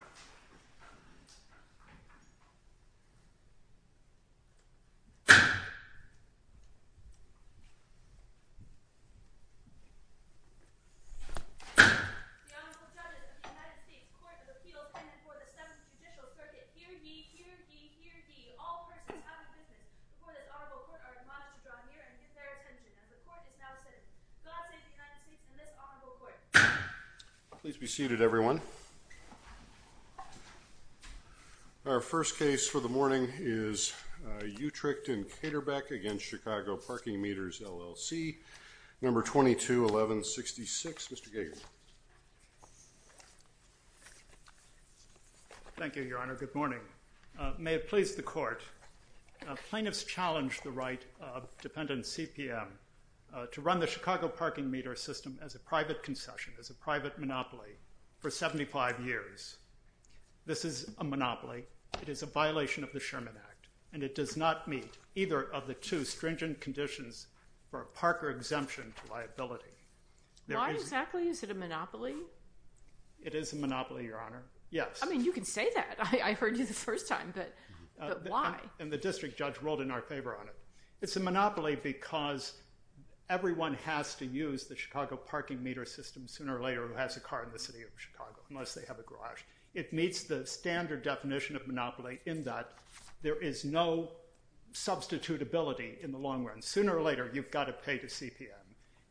The Honorable Judges of the United States Court of Appeals pending before the 7th Judicial Circuit. Hear ye, hear ye, hear ye. All persons have a witness. The court is now seated. God save the United States and this Honorable Court. Please be seated everyone. Our first case for the morning is Uetricht v. Caterbeck v. Chicago Parking Meters, LLC, No. 22-11-66. Mr. Gager. Thank you, Your Honor. Good morning. May it please the Court. Plaintiffs challenged the right of dependent CPM to run the Chicago Parking Meter system as a private concession, as a private monopoly for 75 years. This is a monopoly. It is a violation of the Sherman Act and it does not meet either of the two stringent conditions for a Parker exemption to liability. Why exactly is it a monopoly? It is a monopoly, Your Honor. Yes. I mean, you can say that. I heard you the first time, but why? And the district judge ruled in our favor on it. It's a monopoly because everyone has to use the Chicago Parking Meter system sooner or later who has a car in the city of Chicago, unless they have a garage. It meets the standard definition of monopoly in that there is no substitutability in the long run. Sooner or later, you've got to pay to CPM.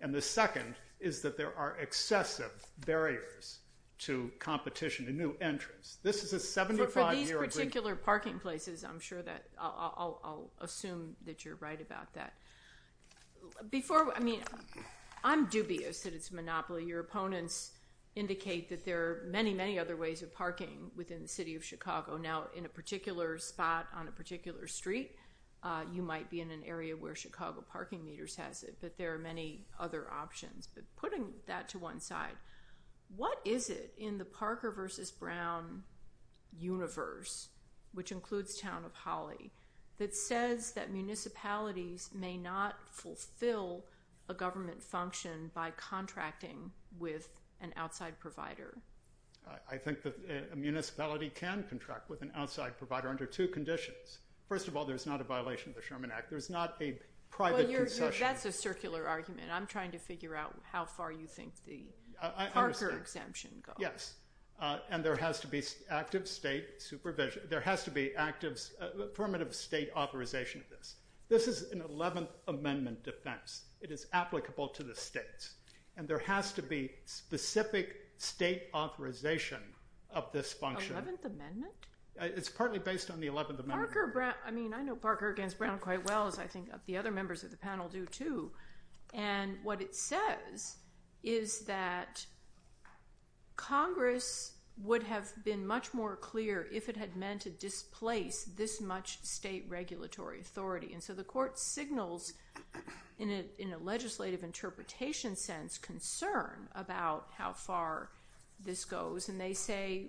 And the second is that there are excessive barriers to competition and new entrants. This is a 75-year agreement. For these particular parking places, I'm sure that, I'll assume that you're right about that. Before, I mean, I'm dubious that it's a monopoly. Your opponents indicate that there are many, many other ways of parking within the city of Chicago. Now, in a particular spot on a particular street, you might be in an area where Chicago Parking Meters has it, but there are many other options. But putting that to one side, what is it in the Parker versus Brown universe, which includes Town of Holly, that says that municipalities may not fulfill a government function by contracting with an outside provider? I think that a municipality can contract with an outside provider under two conditions. First of all, there's not a violation of the Sherman Act. There's not a private concession. That's a circular argument. I'm trying to figure out how far you think the Parker exemption goes. Yes. And there has to be active state supervision. There has to be affirmative state authorization of this. This is an 11th Amendment defense. It is applicable to the states. And there has to be specific state authorization of this function. 11th Amendment? It's partly based on the 11th Amendment. I mean, I know Parker against Brown quite well, as I think the other members of the And what it says is that Congress would have been much more clear if it had meant to displace this much state regulatory authority. And so the court signals, in a legislative interpretation sense, concern about how far this goes. And they say,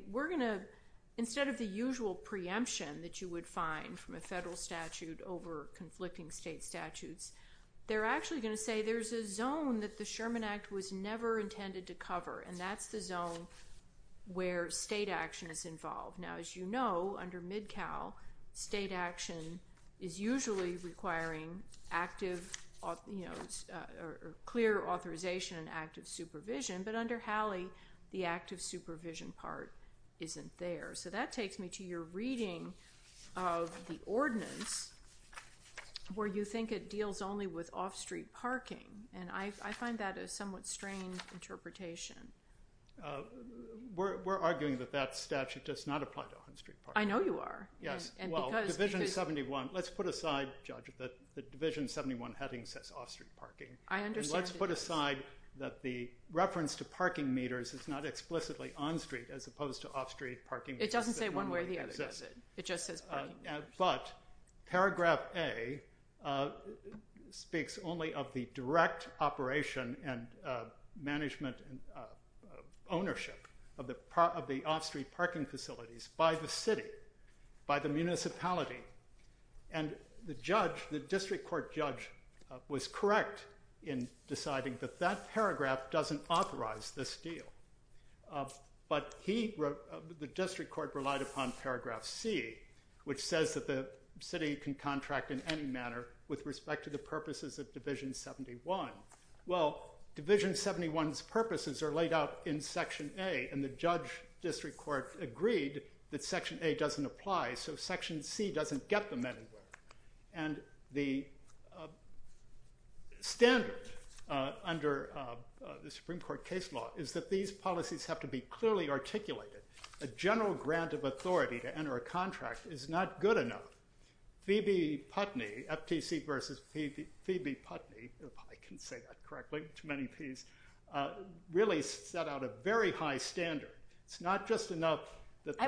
instead of the usual preemption that you would find from a federal statute over conflicting state statutes, they're actually going to say there's a zone that the Sherman Act was never intended to cover. And that's the zone where state action is involved. Now, as you know, under MIDCAL, state action is usually requiring active or clear authorization and active supervision. But under HALLE, the active supervision part isn't there. So that takes me to your reading of the ordinance, where you think it deals only with off-street parking. And I find that a somewhat strained interpretation. We're arguing that that statute does not apply to off-street parking. I know you are. Yes. Well, Division 71, let's put aside, Judge, that the Division 71 heading says off-street parking. I understand. And let's put aside that the reference to parking meters is not explicitly on-street, as opposed to off-street parking. It doesn't say one way or the other, does it? It just says parking meters. But paragraph A speaks only of the direct operation and management ownership of the off-street parking facilities by the city, by the municipality. And the judge, the district court judge, was correct in deciding that that paragraph doesn't authorize this deal. But the district court relied upon paragraph C, which says that the city can contract in any manner with respect to the purposes of Division 71. Well, Division 71's purposes are laid out in Section A, and the judge district court agreed that Section A doesn't apply, so Section C doesn't get them anywhere. And the standard under the Supreme Court case law is that these policies have to be clearly articulated. A general grant of authority to enter a contract is not good enough. Phoebe Putney, FTC versus Phoebe Putney, if I can say that correctly, too many Ps, really set out a very high standard. It's not just enough that the—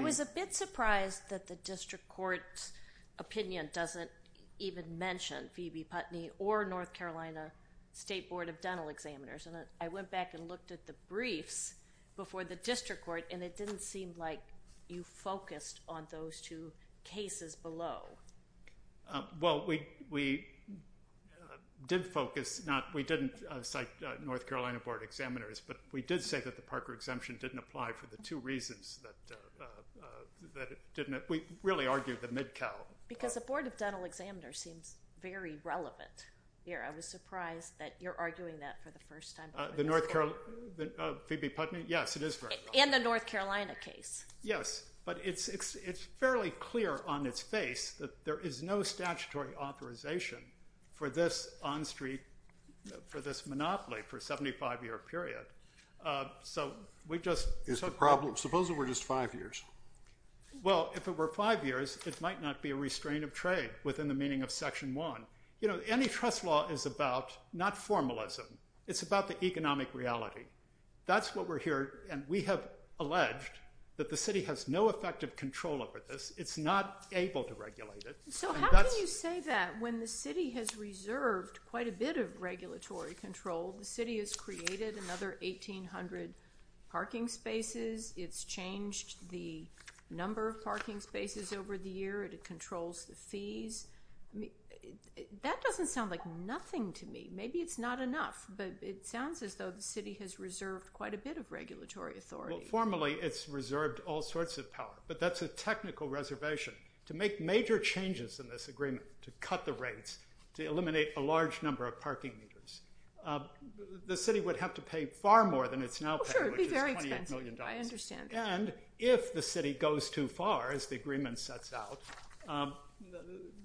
You didn't even mention Phoebe Putney or North Carolina State Board of Dental Examiners. And I went back and looked at the briefs before the district court, and it didn't seem like you focused on those two cases below. Well, we did focus. We didn't cite North Carolina Board of Examiners, but we did say that the Parker exemption didn't apply for the two reasons that it didn't. We really argued the mid-cal. Because the Board of Dental Examiners seems very relevant here. I was surprised that you're arguing that for the first time. Phoebe Putney, yes, it is very relevant. And the North Carolina case. Yes, but it's fairly clear on its face that there is no statutory authorization for this on-street, for this monopoly for a 75-year period. So we just— Suppose it were just five years. Well, if it were five years, it might not be a restraint of trade within the meaning of Section 1. You know, antitrust law is about not formalism. It's about the economic reality. That's what we're hearing. And we have alleged that the city has no effective control over this. It's not able to regulate it. So how can you say that when the city has reserved quite a bit of regulatory control? The city has created another 1,800 parking spaces. It's changed the number of parking spaces over the year. It controls the fees. That doesn't sound like nothing to me. Maybe it's not enough. But it sounds as though the city has reserved quite a bit of regulatory authority. Well, formally, it's reserved all sorts of power. But that's a technical reservation. To make major changes in this agreement, to cut the rates, to eliminate a large number of parking meters, the city would have to pay far more than it's now paying, which is $28 million. I understand. And if the city goes too far, as the agreement sets out,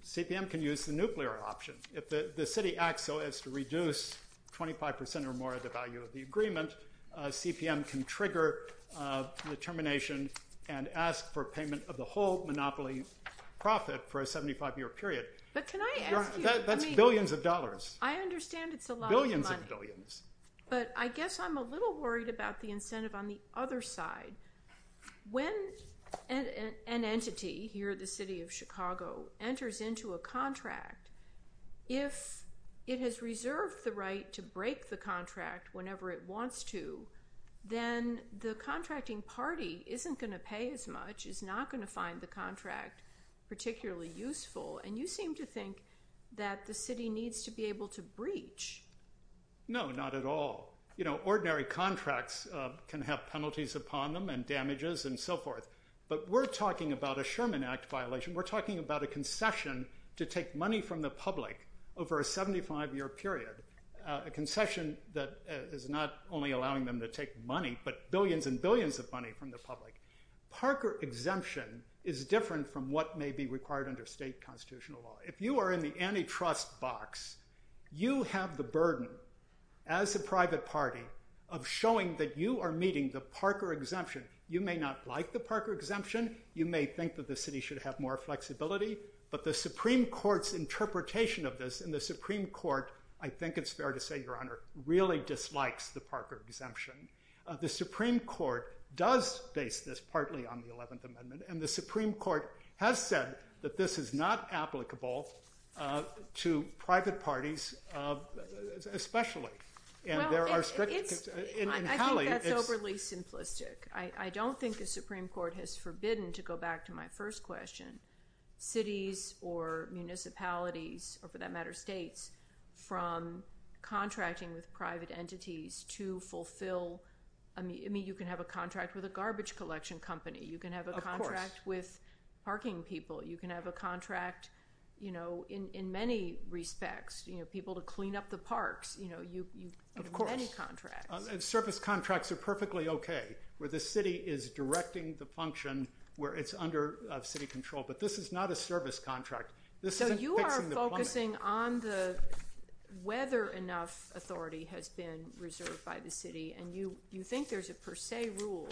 CPM can use the nuclear option. If the city acts so as to reduce 25 percent or more of the value of the agreement, CPM can trigger the termination and ask for payment of the whole monopoly profit for a 75-year period. But can I ask you? That's billions of dollars. I understand it's a lot of money. Billions of billions. But I guess I'm a little worried about the incentive on the other side. When an entity, here the city of Chicago, enters into a contract, if it has reserved the right to break the contract whenever it wants to, then the contracting party isn't going to pay as much, is not going to find the contract particularly useful. And you seem to think that the city needs to be able to breach. No, not at all. Ordinary contracts can have penalties upon them and damages and so forth. But we're talking about a Sherman Act violation. We're talking about a concession to take money from the public over a 75-year period, a concession that is not only allowing them to take money, but billions and billions of money from the public. Parker exemption is different from what may be required under state constitutional law. If you are in the antitrust box, you have the burden, as a private party, of showing that you are meeting the Parker exemption. You may not like the Parker exemption. You may think that the city should have more flexibility. But the Supreme Court's interpretation of this, and the Supreme Court, I think it's fair to say, Your Honor, really dislikes the Parker exemption. The Supreme Court does base this partly on the 11th Amendment. And the Supreme Court has said that this is not applicable to private parties especially. And there are strict conditions. I think that's overly simplistic. I don't think the Supreme Court has forbidden, to go back to my first question, cities or municipalities, or for that matter states, from contracting with private entities to fulfill. I mean, you can have a contract with a garbage collection company. You can have a contract with parking people. You can have a contract, you know, in many respects, you know, people to clean up the parks. You know, you have many contracts. Of course. Service contracts are perfectly okay where the city is directing the function where it's under city control. But this is not a service contract. This isn't fixing the plumbing. So you are focusing on whether enough authority has been reserved by the city. And you think there's a per se rule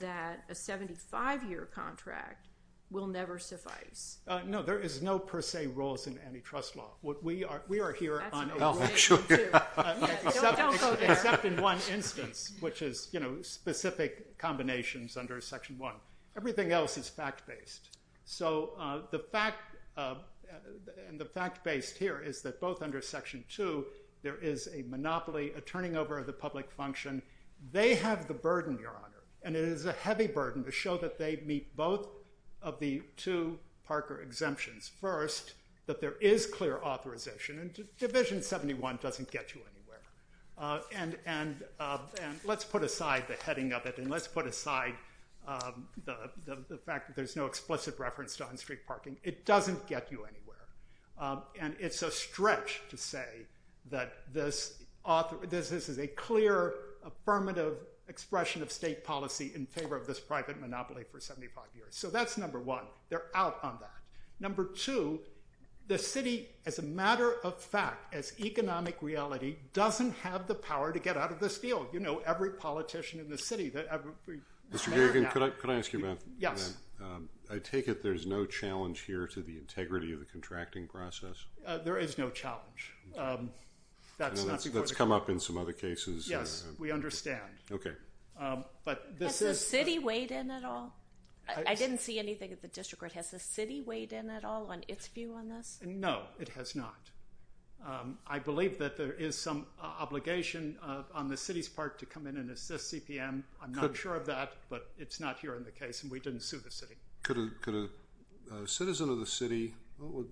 that a 75-year contract will never suffice. No, there is no per se rules in antitrust law. We are here on a… That's not true. Don't go there. Except in one instance, which is, you know, specific combinations under Section 1. Everything else is fact-based. So the fact… And the fact-based here is that both under Section 2, there is a monopoly, a turning over of the public function. They have the burden, Your Honor. And it is a heavy burden to show that they meet both of the two Parker exemptions. First, that there is clear authorization. And Division 71 doesn't get you anywhere. And let's put aside the heading of it. And let's put aside the fact that there's no explicit reference to on-street parking. It doesn't get you anywhere. And it's a stretch to say that this is a clear, affirmative expression of state policy in favor of this private monopoly for 75 years. So that's number one. They're out on that. Number two, the city, as a matter of fact, as economic reality, doesn't have the power to get out of this deal. You know, every politician in the city. Mr. Gagin, could I ask you about that? Yes. I take it there's no challenge here to the integrity of the contracting process? There is no challenge. That's not before the court. That's come up in some other cases. Yes, we understand. Okay. But this is… Has the city weighed in at all? I didn't see anything at the district court. Has the city weighed in at all on its view on this? No, it has not. I believe that there is some obligation on the city's part to come in and assist CPM. I'm not sure of that, but it's not here in the case, and we didn't sue the city. Could a citizen of the city…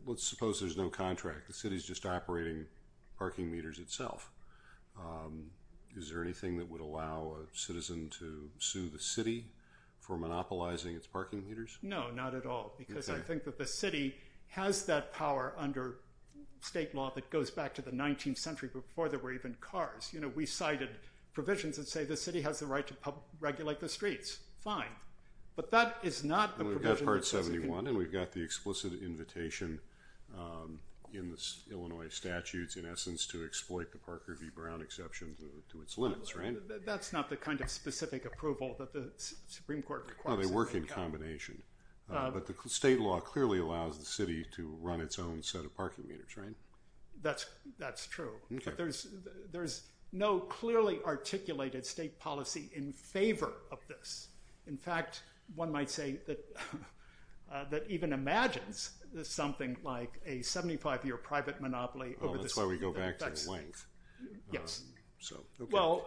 Let's suppose there's no contract. The city's just operating parking meters itself. Is there anything that would allow a citizen to sue the city for monopolizing its parking meters? No, not at all, because I think that the city has that power under state law that goes back to the 19th century before there were even cars. You know, we cited provisions that say the city has the right to regulate the streets. Fine. But that is not a provision… We've got Part 71, and we've got the explicit invitation in the Illinois statutes, in essence, to exploit the Parker v. Brown exception to its limits, right? That's not the kind of specific approval that the Supreme Court requires. No, they work in combination. But the state law clearly allows the city to run its own set of parking meters, right? That's true. But there's no clearly articulated state policy in favor of this. In fact, one might say that even imagines something like a 75-year private monopoly over the city. Oh, that's why we go back to the length. Yes.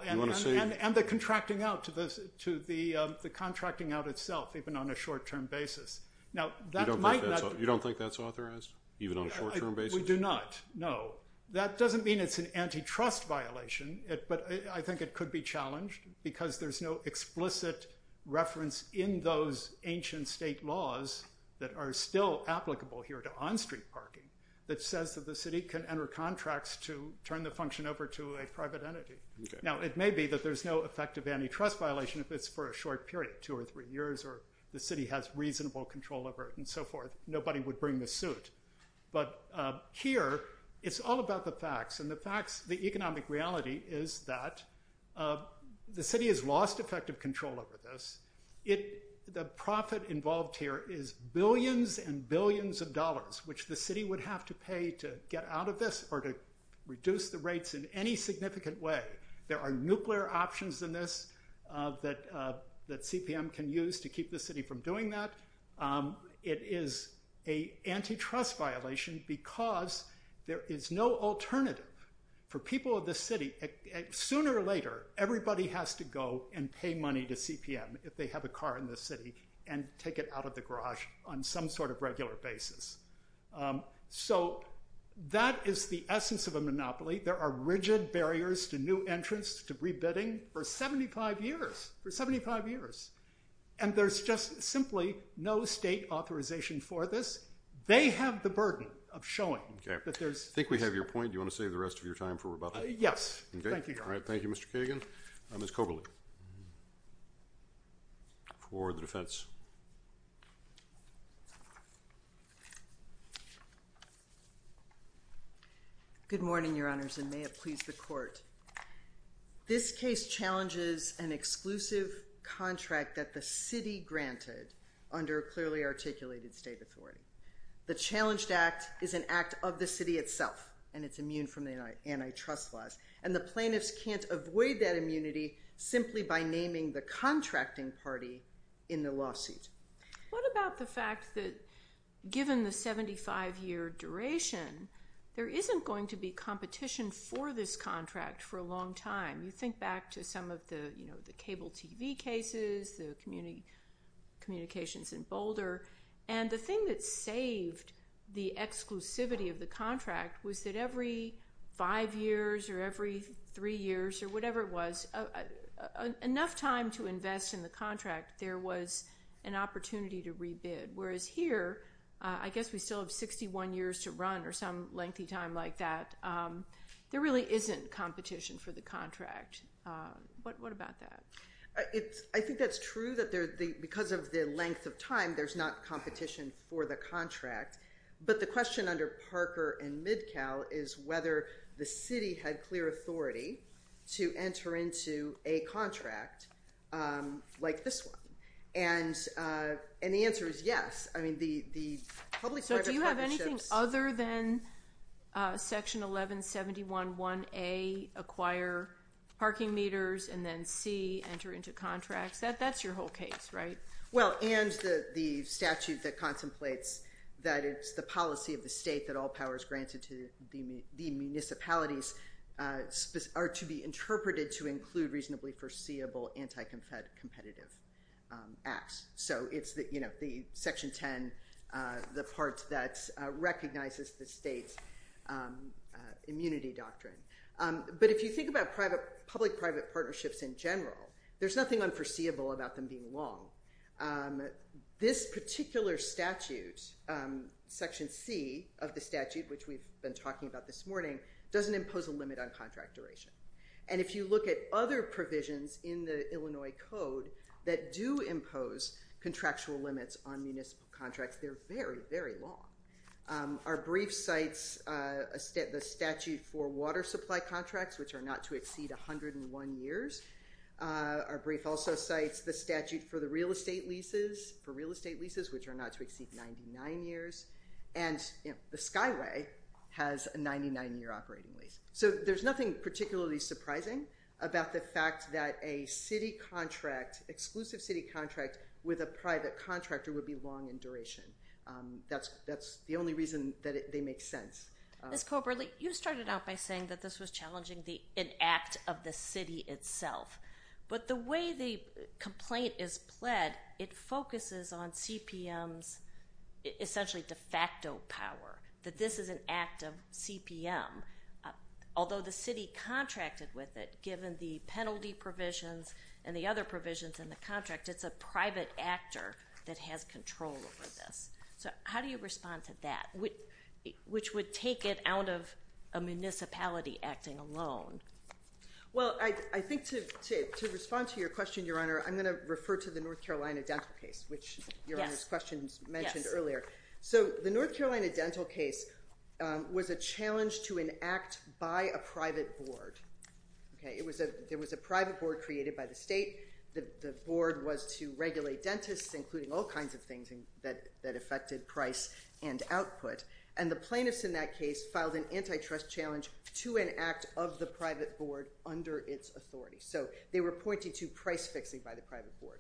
And the contracting out to the contracting out itself, even on a short-term basis. You don't think that's authorized, even on a short-term basis? We do not, no. That doesn't mean it's an antitrust violation, but I think it could be challenged because there's no explicit reference in those ancient state laws that are still applicable here to on-street parking that says that the city can enter contracts to turn the function over to a private entity. Now, it may be that there's no effective antitrust violation if it's for a short period, two or three years, or the city has reasonable control over it and so forth. Nobody would bring the suit. But here, it's all about the facts. And the economic reality is that the city has lost effective control over this. The profit involved here is billions and billions of dollars which the city would have to pay to get out of this or to reduce the rates in any significant way. There are nuclear options in this that CPM can use to keep the city from doing that. It is an antitrust violation because there is no alternative for people of this city. Sooner or later, everybody has to go and pay money to CPM if they have a car in this city and take it out of the garage on some sort of regular basis. So that is the essence of a monopoly. There are rigid barriers to new entrants to rebidding for 75 years, for 75 years. And there's just simply no state authorization for this. They have the burden of showing that there's... I think we have your point. Do you want to save the rest of your time for rebuttal? Yes. Thank you. All right. Thank you, Mr. Kagan. Ms. Koberly for the defense. Good morning, Your Honors, and may it please the Court. This case challenges an exclusive contract that the city granted under clearly articulated state authority. The challenged act is an act of the city itself, and it's immune from the antitrust laws. And the plaintiffs can't avoid that immunity simply by naming the contracting party in the lawsuit. What about the fact that given the 75-year duration, there isn't going to be competition for this contract for a long time? You think back to some of the cable TV cases, the communications in Boulder, and the thing that saved the exclusivity of the contract was that every five years or every three years or whatever it was, enough time to invest in the contract, there was an opportunity to rebid. Whereas here, I guess we still have 61 years to run or some lengthy time like that. There really isn't competition for the contract. What about that? I think that's true that because of the length of time, there's not competition for the contract. But the question under Parker and MidCal is whether the city had clear authority to enter into a contract like this one. And the answer is yes. So do you have anything other than Section 1171-1A, acquire parking meters, and then C, enter into contracts? That's your whole case, right? Well, and the statute that contemplates that it's the policy of the state that all powers granted to the municipalities are to be interpreted to include reasonably foreseeable anti-competitive acts. So it's the Section 10, the part that recognizes the state's immunity doctrine. But if you think about public-private partnerships in general, there's nothing unforeseeable about them being long. This particular statute, Section C of the statute, which we've been talking about this morning, doesn't impose a limit on contract duration. And if you look at other provisions in the Illinois Code that do impose contractual limits on municipal contracts, they're very, very long. Our brief cites the statute for water supply contracts, which are not to exceed 101 years. Our brief also cites the statute for the real estate leases, for real estate leases which are not to exceed 99 years. And the Skyway has a 99-year operating lease. So there's nothing particularly surprising about the fact that a city contract, exclusive city contract with a private contractor would be long in duration. That's the only reason that they make sense. Ms. Colbert, you started out by saying that this was challenging an act of the city itself. But the way the complaint is pled, it focuses on CPM's essentially de facto power, that this is an act of CPM, although the city contracted with it, given the penalty provisions and the other provisions in the contract, it's a private actor that has control over this. So how do you respond to that, which would take it out of a municipality acting alone? Well, I think to respond to your question, Your Honor, I'm going to refer to the North Carolina dental case, which Your Honor's question mentioned earlier. So the North Carolina dental case was a challenge to an act by a private board. There was a private board created by the state. The board was to regulate dentists, including all kinds of things that affected price and output. And the plaintiffs in that case filed an antitrust challenge to an act of the private board under its authority. So they were pointing to price fixing by the private board.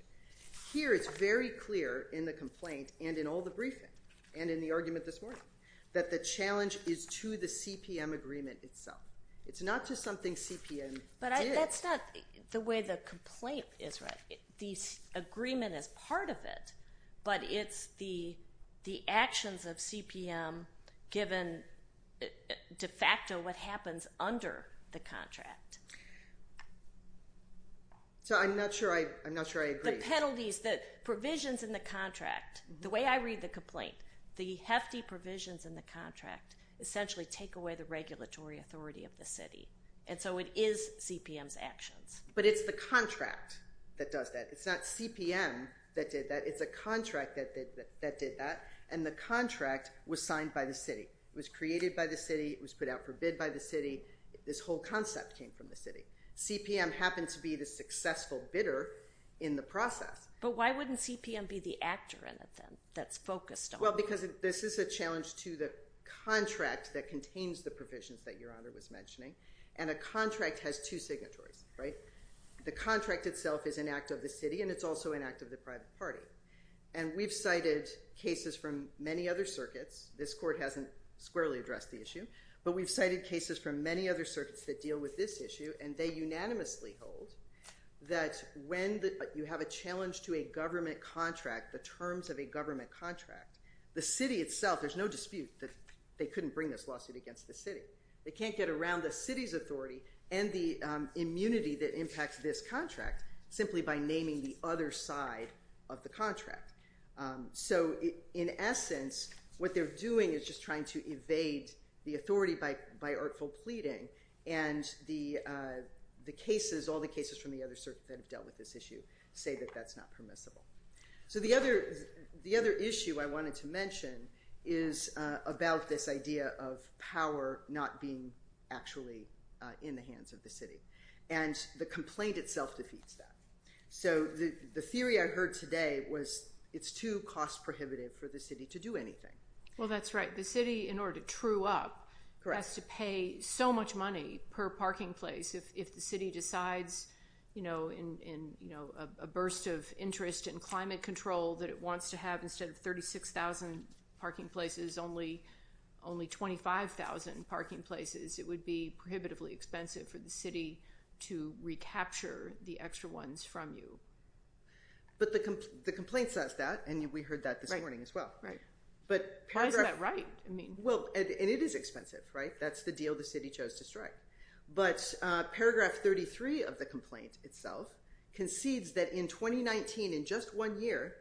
Here it's very clear in the complaint and in all the briefing and in the argument this morning that the challenge is to the CPM agreement itself. It's not just something CPM did. But that's not the way the complaint is read. The agreement is part of it, but it's the actions of CPM given de facto what happens under the contract. So I'm not sure I agree. The penalties, the provisions in the contract, the way I read the complaint, the hefty provisions in the contract essentially take away the regulatory authority of the city. And so it is CPM's actions. But it's the contract that does that. It's not CPM that did that. It's a contract that did that, and the contract was signed by the city. It was created by the city. It was put out for bid by the city. This whole concept came from the city. CPM happened to be the successful bidder in the process. But why wouldn't CPM be the actor in it then that's focused on? Well, because this is a challenge to the contract that contains the provisions that Your Honor was mentioning, and a contract has two signatories. The contract itself is an act of the city, and it's also an act of the private party. And we've cited cases from many other circuits. This court hasn't squarely addressed the issue. But we've cited cases from many other circuits that deal with this issue, and they unanimously hold that when you have a challenge to a government contract, the terms of a government contract, the city itself, there's no dispute that they couldn't bring this lawsuit against the city. They can't get around the city's authority and the immunity that impacts this contract simply by naming the other side of the contract. So in essence, what they're doing is just trying to evade the authority by artful pleading, and the cases, all the cases from the other circuits that have dealt with this issue say that that's not permissible. So the other issue I wanted to mention is about this idea of power not being actually in the hands of the city, and the complaint itself defeats that. So the theory I heard today was it's too cost prohibitive for the city to do anything. Well, that's right. The city, in order to true up, has to pay so much money per parking place. If the city decides in a burst of interest in climate control that it wants to have instead of 36,000 parking places only 25,000 parking places, it would be prohibitively expensive for the city to recapture the extra ones from you. But the complaint says that, and we heard that this morning as well. Right. Why isn't that right? Well, and it is expensive, right? That's the deal the city chose to strike. But paragraph 33 of the complaint itself concedes that in 2019, in just one year,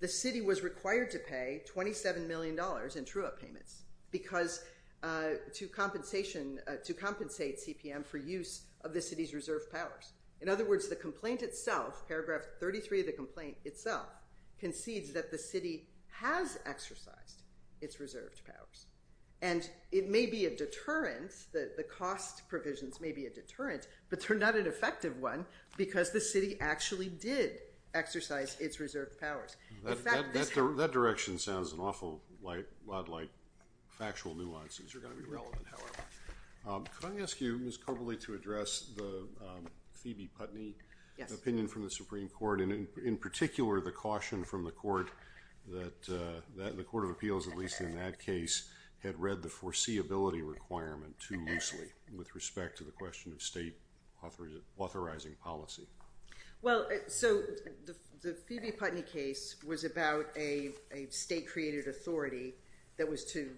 the city was required to pay $27 million in true up payments because to compensate CPM for use of the city's reserve powers. In other words, the complaint itself, paragraph 33 of the complaint itself, concedes that the city has exercised its reserved powers. And it may be a deterrent, the cost provisions may be a deterrent, but they're not an effective one because the city actually did exercise its reserved powers. That direction sounds an awful lot like factual nuances are going to be relevant, however. Can I ask you, Ms. Cobley, to address the Phoebe Putney opinion from the Supreme Court, and in particular the caution from the court that the Court of Appeals, at least in that case, had read the foreseeability requirement too loosely with respect to the question of state authorizing policy. Well, so the Phoebe Putney case was about a state-created authority that was to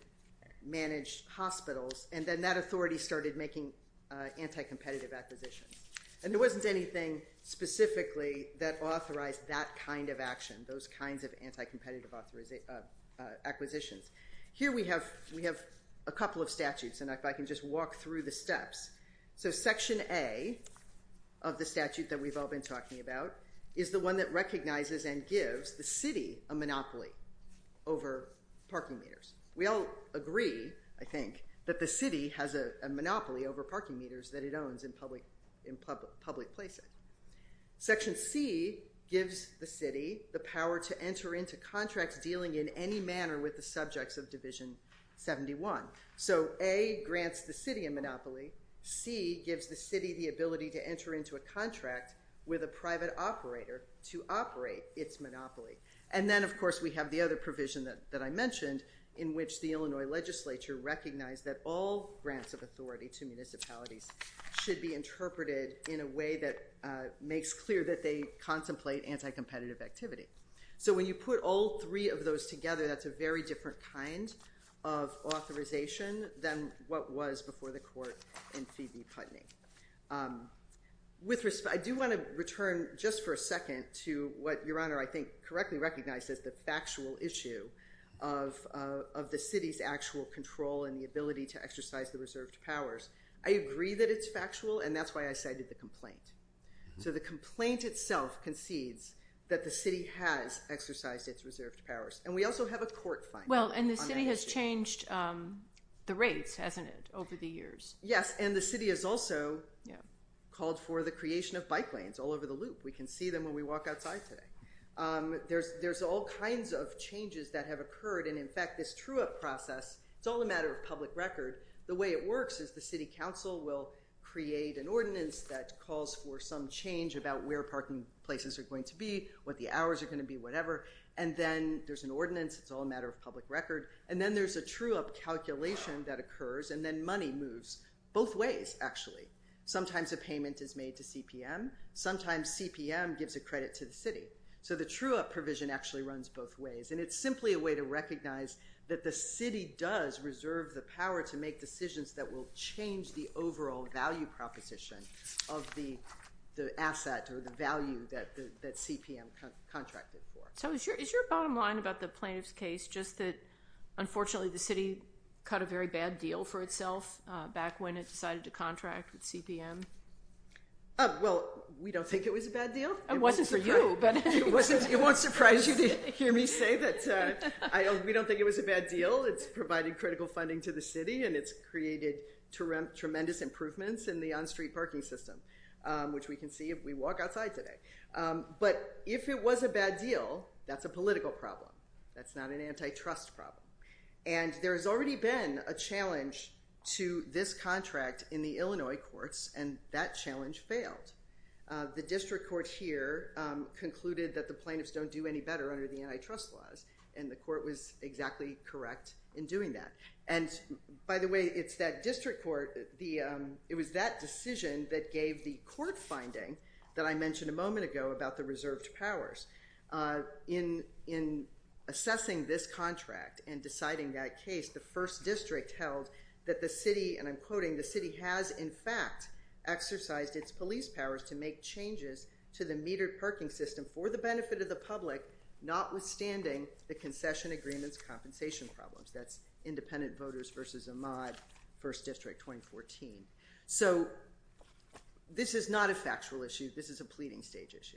manage hospitals, and then that authority started making anti-competitive acquisitions. And there wasn't anything specifically that authorized that kind of action, those kinds of anti-competitive acquisitions. Here we have a couple of statutes, and if I can just walk through the steps. So Section A of the statute that we've all been talking about is the one that recognizes and gives the city a monopoly over parking meters. We all agree, I think, that the city has a monopoly over parking meters that it owns in public places. Section C gives the city the power to enter into contracts dealing in any manner with the subjects of Division 71. So A grants the city a monopoly. C gives the city the ability to enter into a contract with a private operator to operate its monopoly. And then, of course, we have the other provision that I mentioned, in which the Illinois legislature recognized that all grants of authority to municipalities should be interpreted in a way that makes clear that they contemplate anti-competitive activity. So when you put all three of those together, that's a very different kind of authorization than what was before the court in Phoebe Putney. I do want to return just for a second to what Your Honor, I think, correctly recognizes, the factual issue of the city's actual control and the ability to exercise the reserved powers. I agree that it's factual, and that's why I cited the complaint. So the complaint itself concedes that the city has exercised its reserved powers. And we also have a court finding on that issue. Well, and the city has changed the rates, hasn't it, over the years? Yes, and the city has also called for the creation of bike lanes all over the loop. We can see them when we walk outside today. There's all kinds of changes that have occurred. And, in fact, this true-up process, it's all a matter of public record. The way it works is the city council will create an ordinance that calls for some change about where parking places are going to be, what the hours are going to be, whatever. And then there's an ordinance. It's all a matter of public record. And then there's a true-up calculation that occurs, and then money moves both ways, actually. Sometimes a payment is made to CPM. Sometimes CPM gives a credit to the city. So the true-up provision actually runs both ways. And it's simply a way to recognize that the city does reserve the power to make decisions that will change the overall value proposition of the asset or the value that CPM contracted for. So is your bottom line about the plaintiff's case just that, unfortunately, the city cut a very bad deal for itself back when it decided to contract with CPM? Well, we don't think it was a bad deal. It wasn't for you. It won't surprise you to hear me say that we don't think it was a bad deal. It's provided critical funding to the city, and it's created tremendous improvements in the on-street parking system, which we can see if we walk outside today. But if it was a bad deal, that's a political problem. That's not an antitrust problem. And there's already been a challenge to this contract in the Illinois courts, and that challenge failed. The district court here concluded that the plaintiffs don't do any better under the antitrust laws, and the court was exactly correct in doing that. And, by the way, it's that district court, it was that decision that gave the court finding that I mentioned a moment ago about the reserved powers. In assessing this contract and deciding that case, the first district held that the city, and I'm quoting, the city has, in fact, exercised its police powers to make changes to the metered parking system for the benefit of the public, notwithstanding the concession agreements compensation problems. That's Independent Voters v. Ahmad, 1st District, 2014. So this is not a factual issue. This is a pleading stage issue.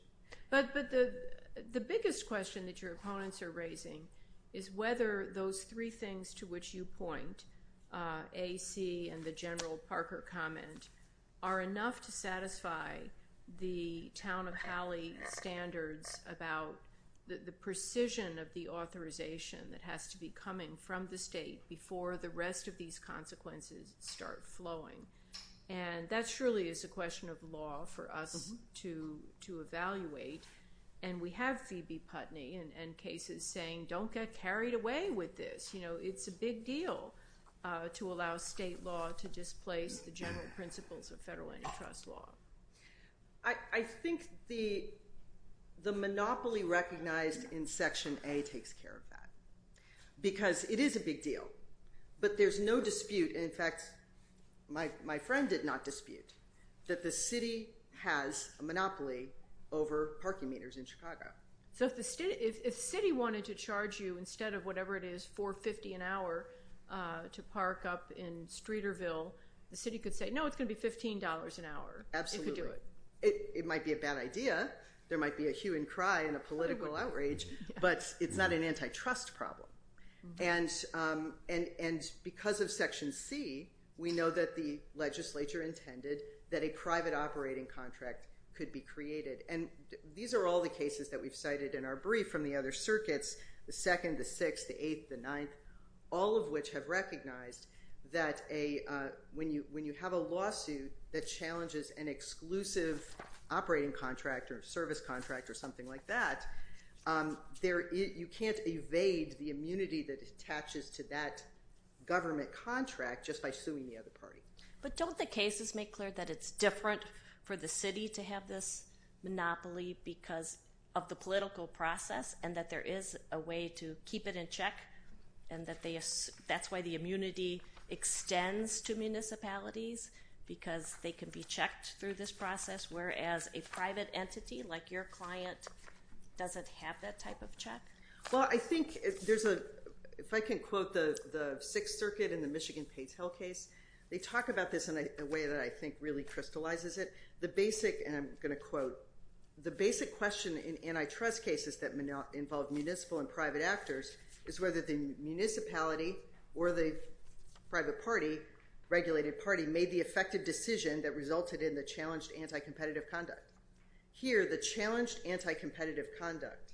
But the biggest question that your opponents are raising is whether those three things to which you point, AC and the General Parker comment, are enough to satisfy the town of Halley standards about the precision of the authorization that has to be coming from the state before the rest of these consequences start flowing. And that surely is a question of law for us to evaluate, and we have Phoebe Putney in cases saying don't get carried away with this. You know, it's a big deal to allow state law to displace the general principles of federal antitrust law. I think the monopoly recognized in Section A takes care of that because it is a big deal. But there's no dispute. In fact, my friend did not dispute that the city has a monopoly over parking meters in Chicago. So if the city wanted to charge you instead of whatever it is, $4.50 an hour to park up in Streeterville, the city could say, no, it's going to be $15 an hour. Absolutely. It might be a bad idea. There might be a hue and cry and a political outrage, but it's not an antitrust problem. And because of Section C, we know that the legislature intended that a private operating contract could be created. And these are all the cases that we've cited in our brief from the other circuits, the second, the sixth, the eighth, the ninth, all of which have recognized that when you have a lawsuit that challenges an exclusive operating contract or service contract or something like that, you can't evade the immunity that attaches to that government contract just by suing the other party. But don't the cases make clear that it's different for the city to have this monopoly because of the political process and that there is a way to keep it in check? And that's why the immunity extends to municipalities because they can be checked through this process, whereas a private entity like your client doesn't have that type of check? Well, I think there's a, if I can quote the Sixth Circuit in the Michigan Pays Hell case, they talk about this in a way that I think really crystallizes it. The basic, and I'm going to quote, the basic question in antitrust cases that involve municipal and private actors is whether the municipality or the private party, regulated party, made the effective decision that resulted in the challenged anticompetitive conduct. Here, the challenged anticompetitive conduct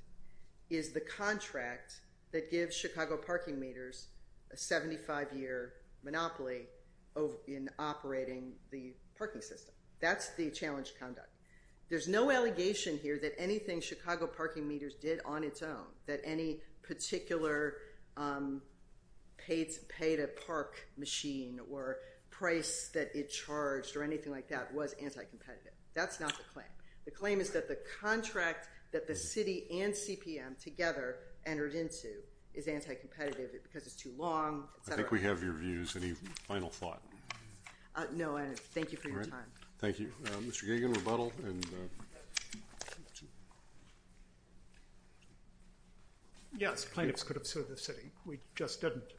is the contract that gives Chicago parking meters a 75-year monopoly in operating the parking system. That's the challenged conduct. There's no allegation here that anything Chicago parking meters did on its own, that any particular pay-to-park machine or price that it charged or anything like that was anticompetitive. That's not the claim. The claim is that the contract that the city and CPM together entered into is anticompetitive because it's too long, et cetera. I think we have your views. Any final thought? No, thank you for your time. Thank you. Mr. Gagin, rebuttal. Yes, plaintiffs could have sued the city. We just didn't.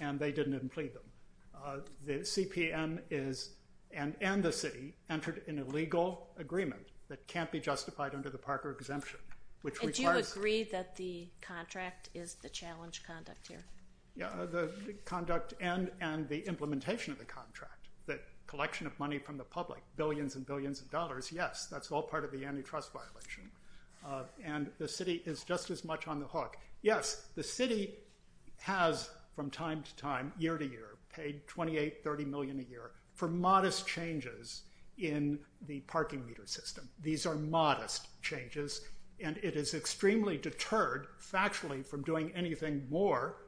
And they didn't even plead them. The CPM is, and the city, entered in a legal agreement that can't be justified under the Parker exemption. And do you agree that the contract is the challenged conduct here? The conduct and the implementation of the contract, the collection of money from the public, billions and billions of dollars, yes. That's all part of the antitrust violation. And the city is just as much on the hook. Yes, the city has from time to time, year to year, paid $28 million, $30 million a year for modest changes in the parking meter system. These are modest changes. And it is extremely deterred factually from doing anything more,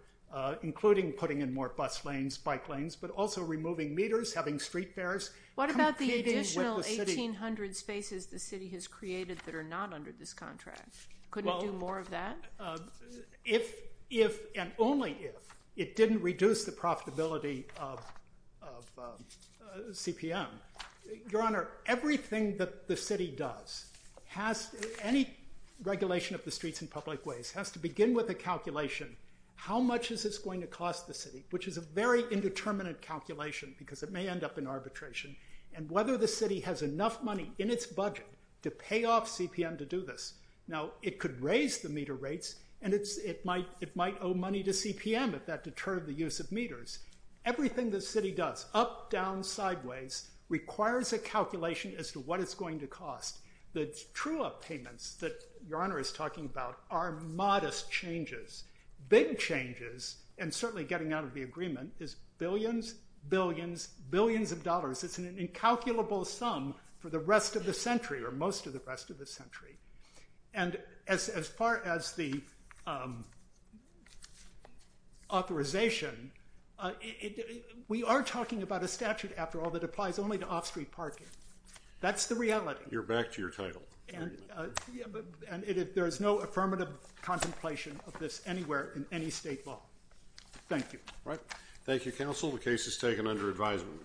including putting in more bus lanes, bike lanes, but also removing meters, having street fares. What about the additional 1,800 spaces the city has created that are not under this contract? Couldn't it do more of that? If and only if it didn't reduce the profitability of CPM. Your Honor, everything that the city does, any regulation of the streets in public ways, has to begin with a calculation. How much is this going to cost the city? Which is a very indeterminate calculation because it may end up in arbitration. And whether the city has enough money in its budget to pay off CPM to do this. Now, it could raise the meter rates and it might owe money to CPM if that deterred the use of meters. Everything the city does, up, down, sideways, requires a calculation as to what it's going to cost. The true up payments that Your Honor is talking about are modest changes. Big changes, and certainly getting out of the agreement, is billions, billions, billions of dollars. It's an incalculable sum for the rest of the century or most of the rest of the century. And as far as the authorization, we are talking about a statute after all that applies only to off-street parking. That's the reality. You're back to your title. And there is no affirmative contemplation of this anywhere in any state law. Thank you. Thank you, counsel. The case is taken under advisement.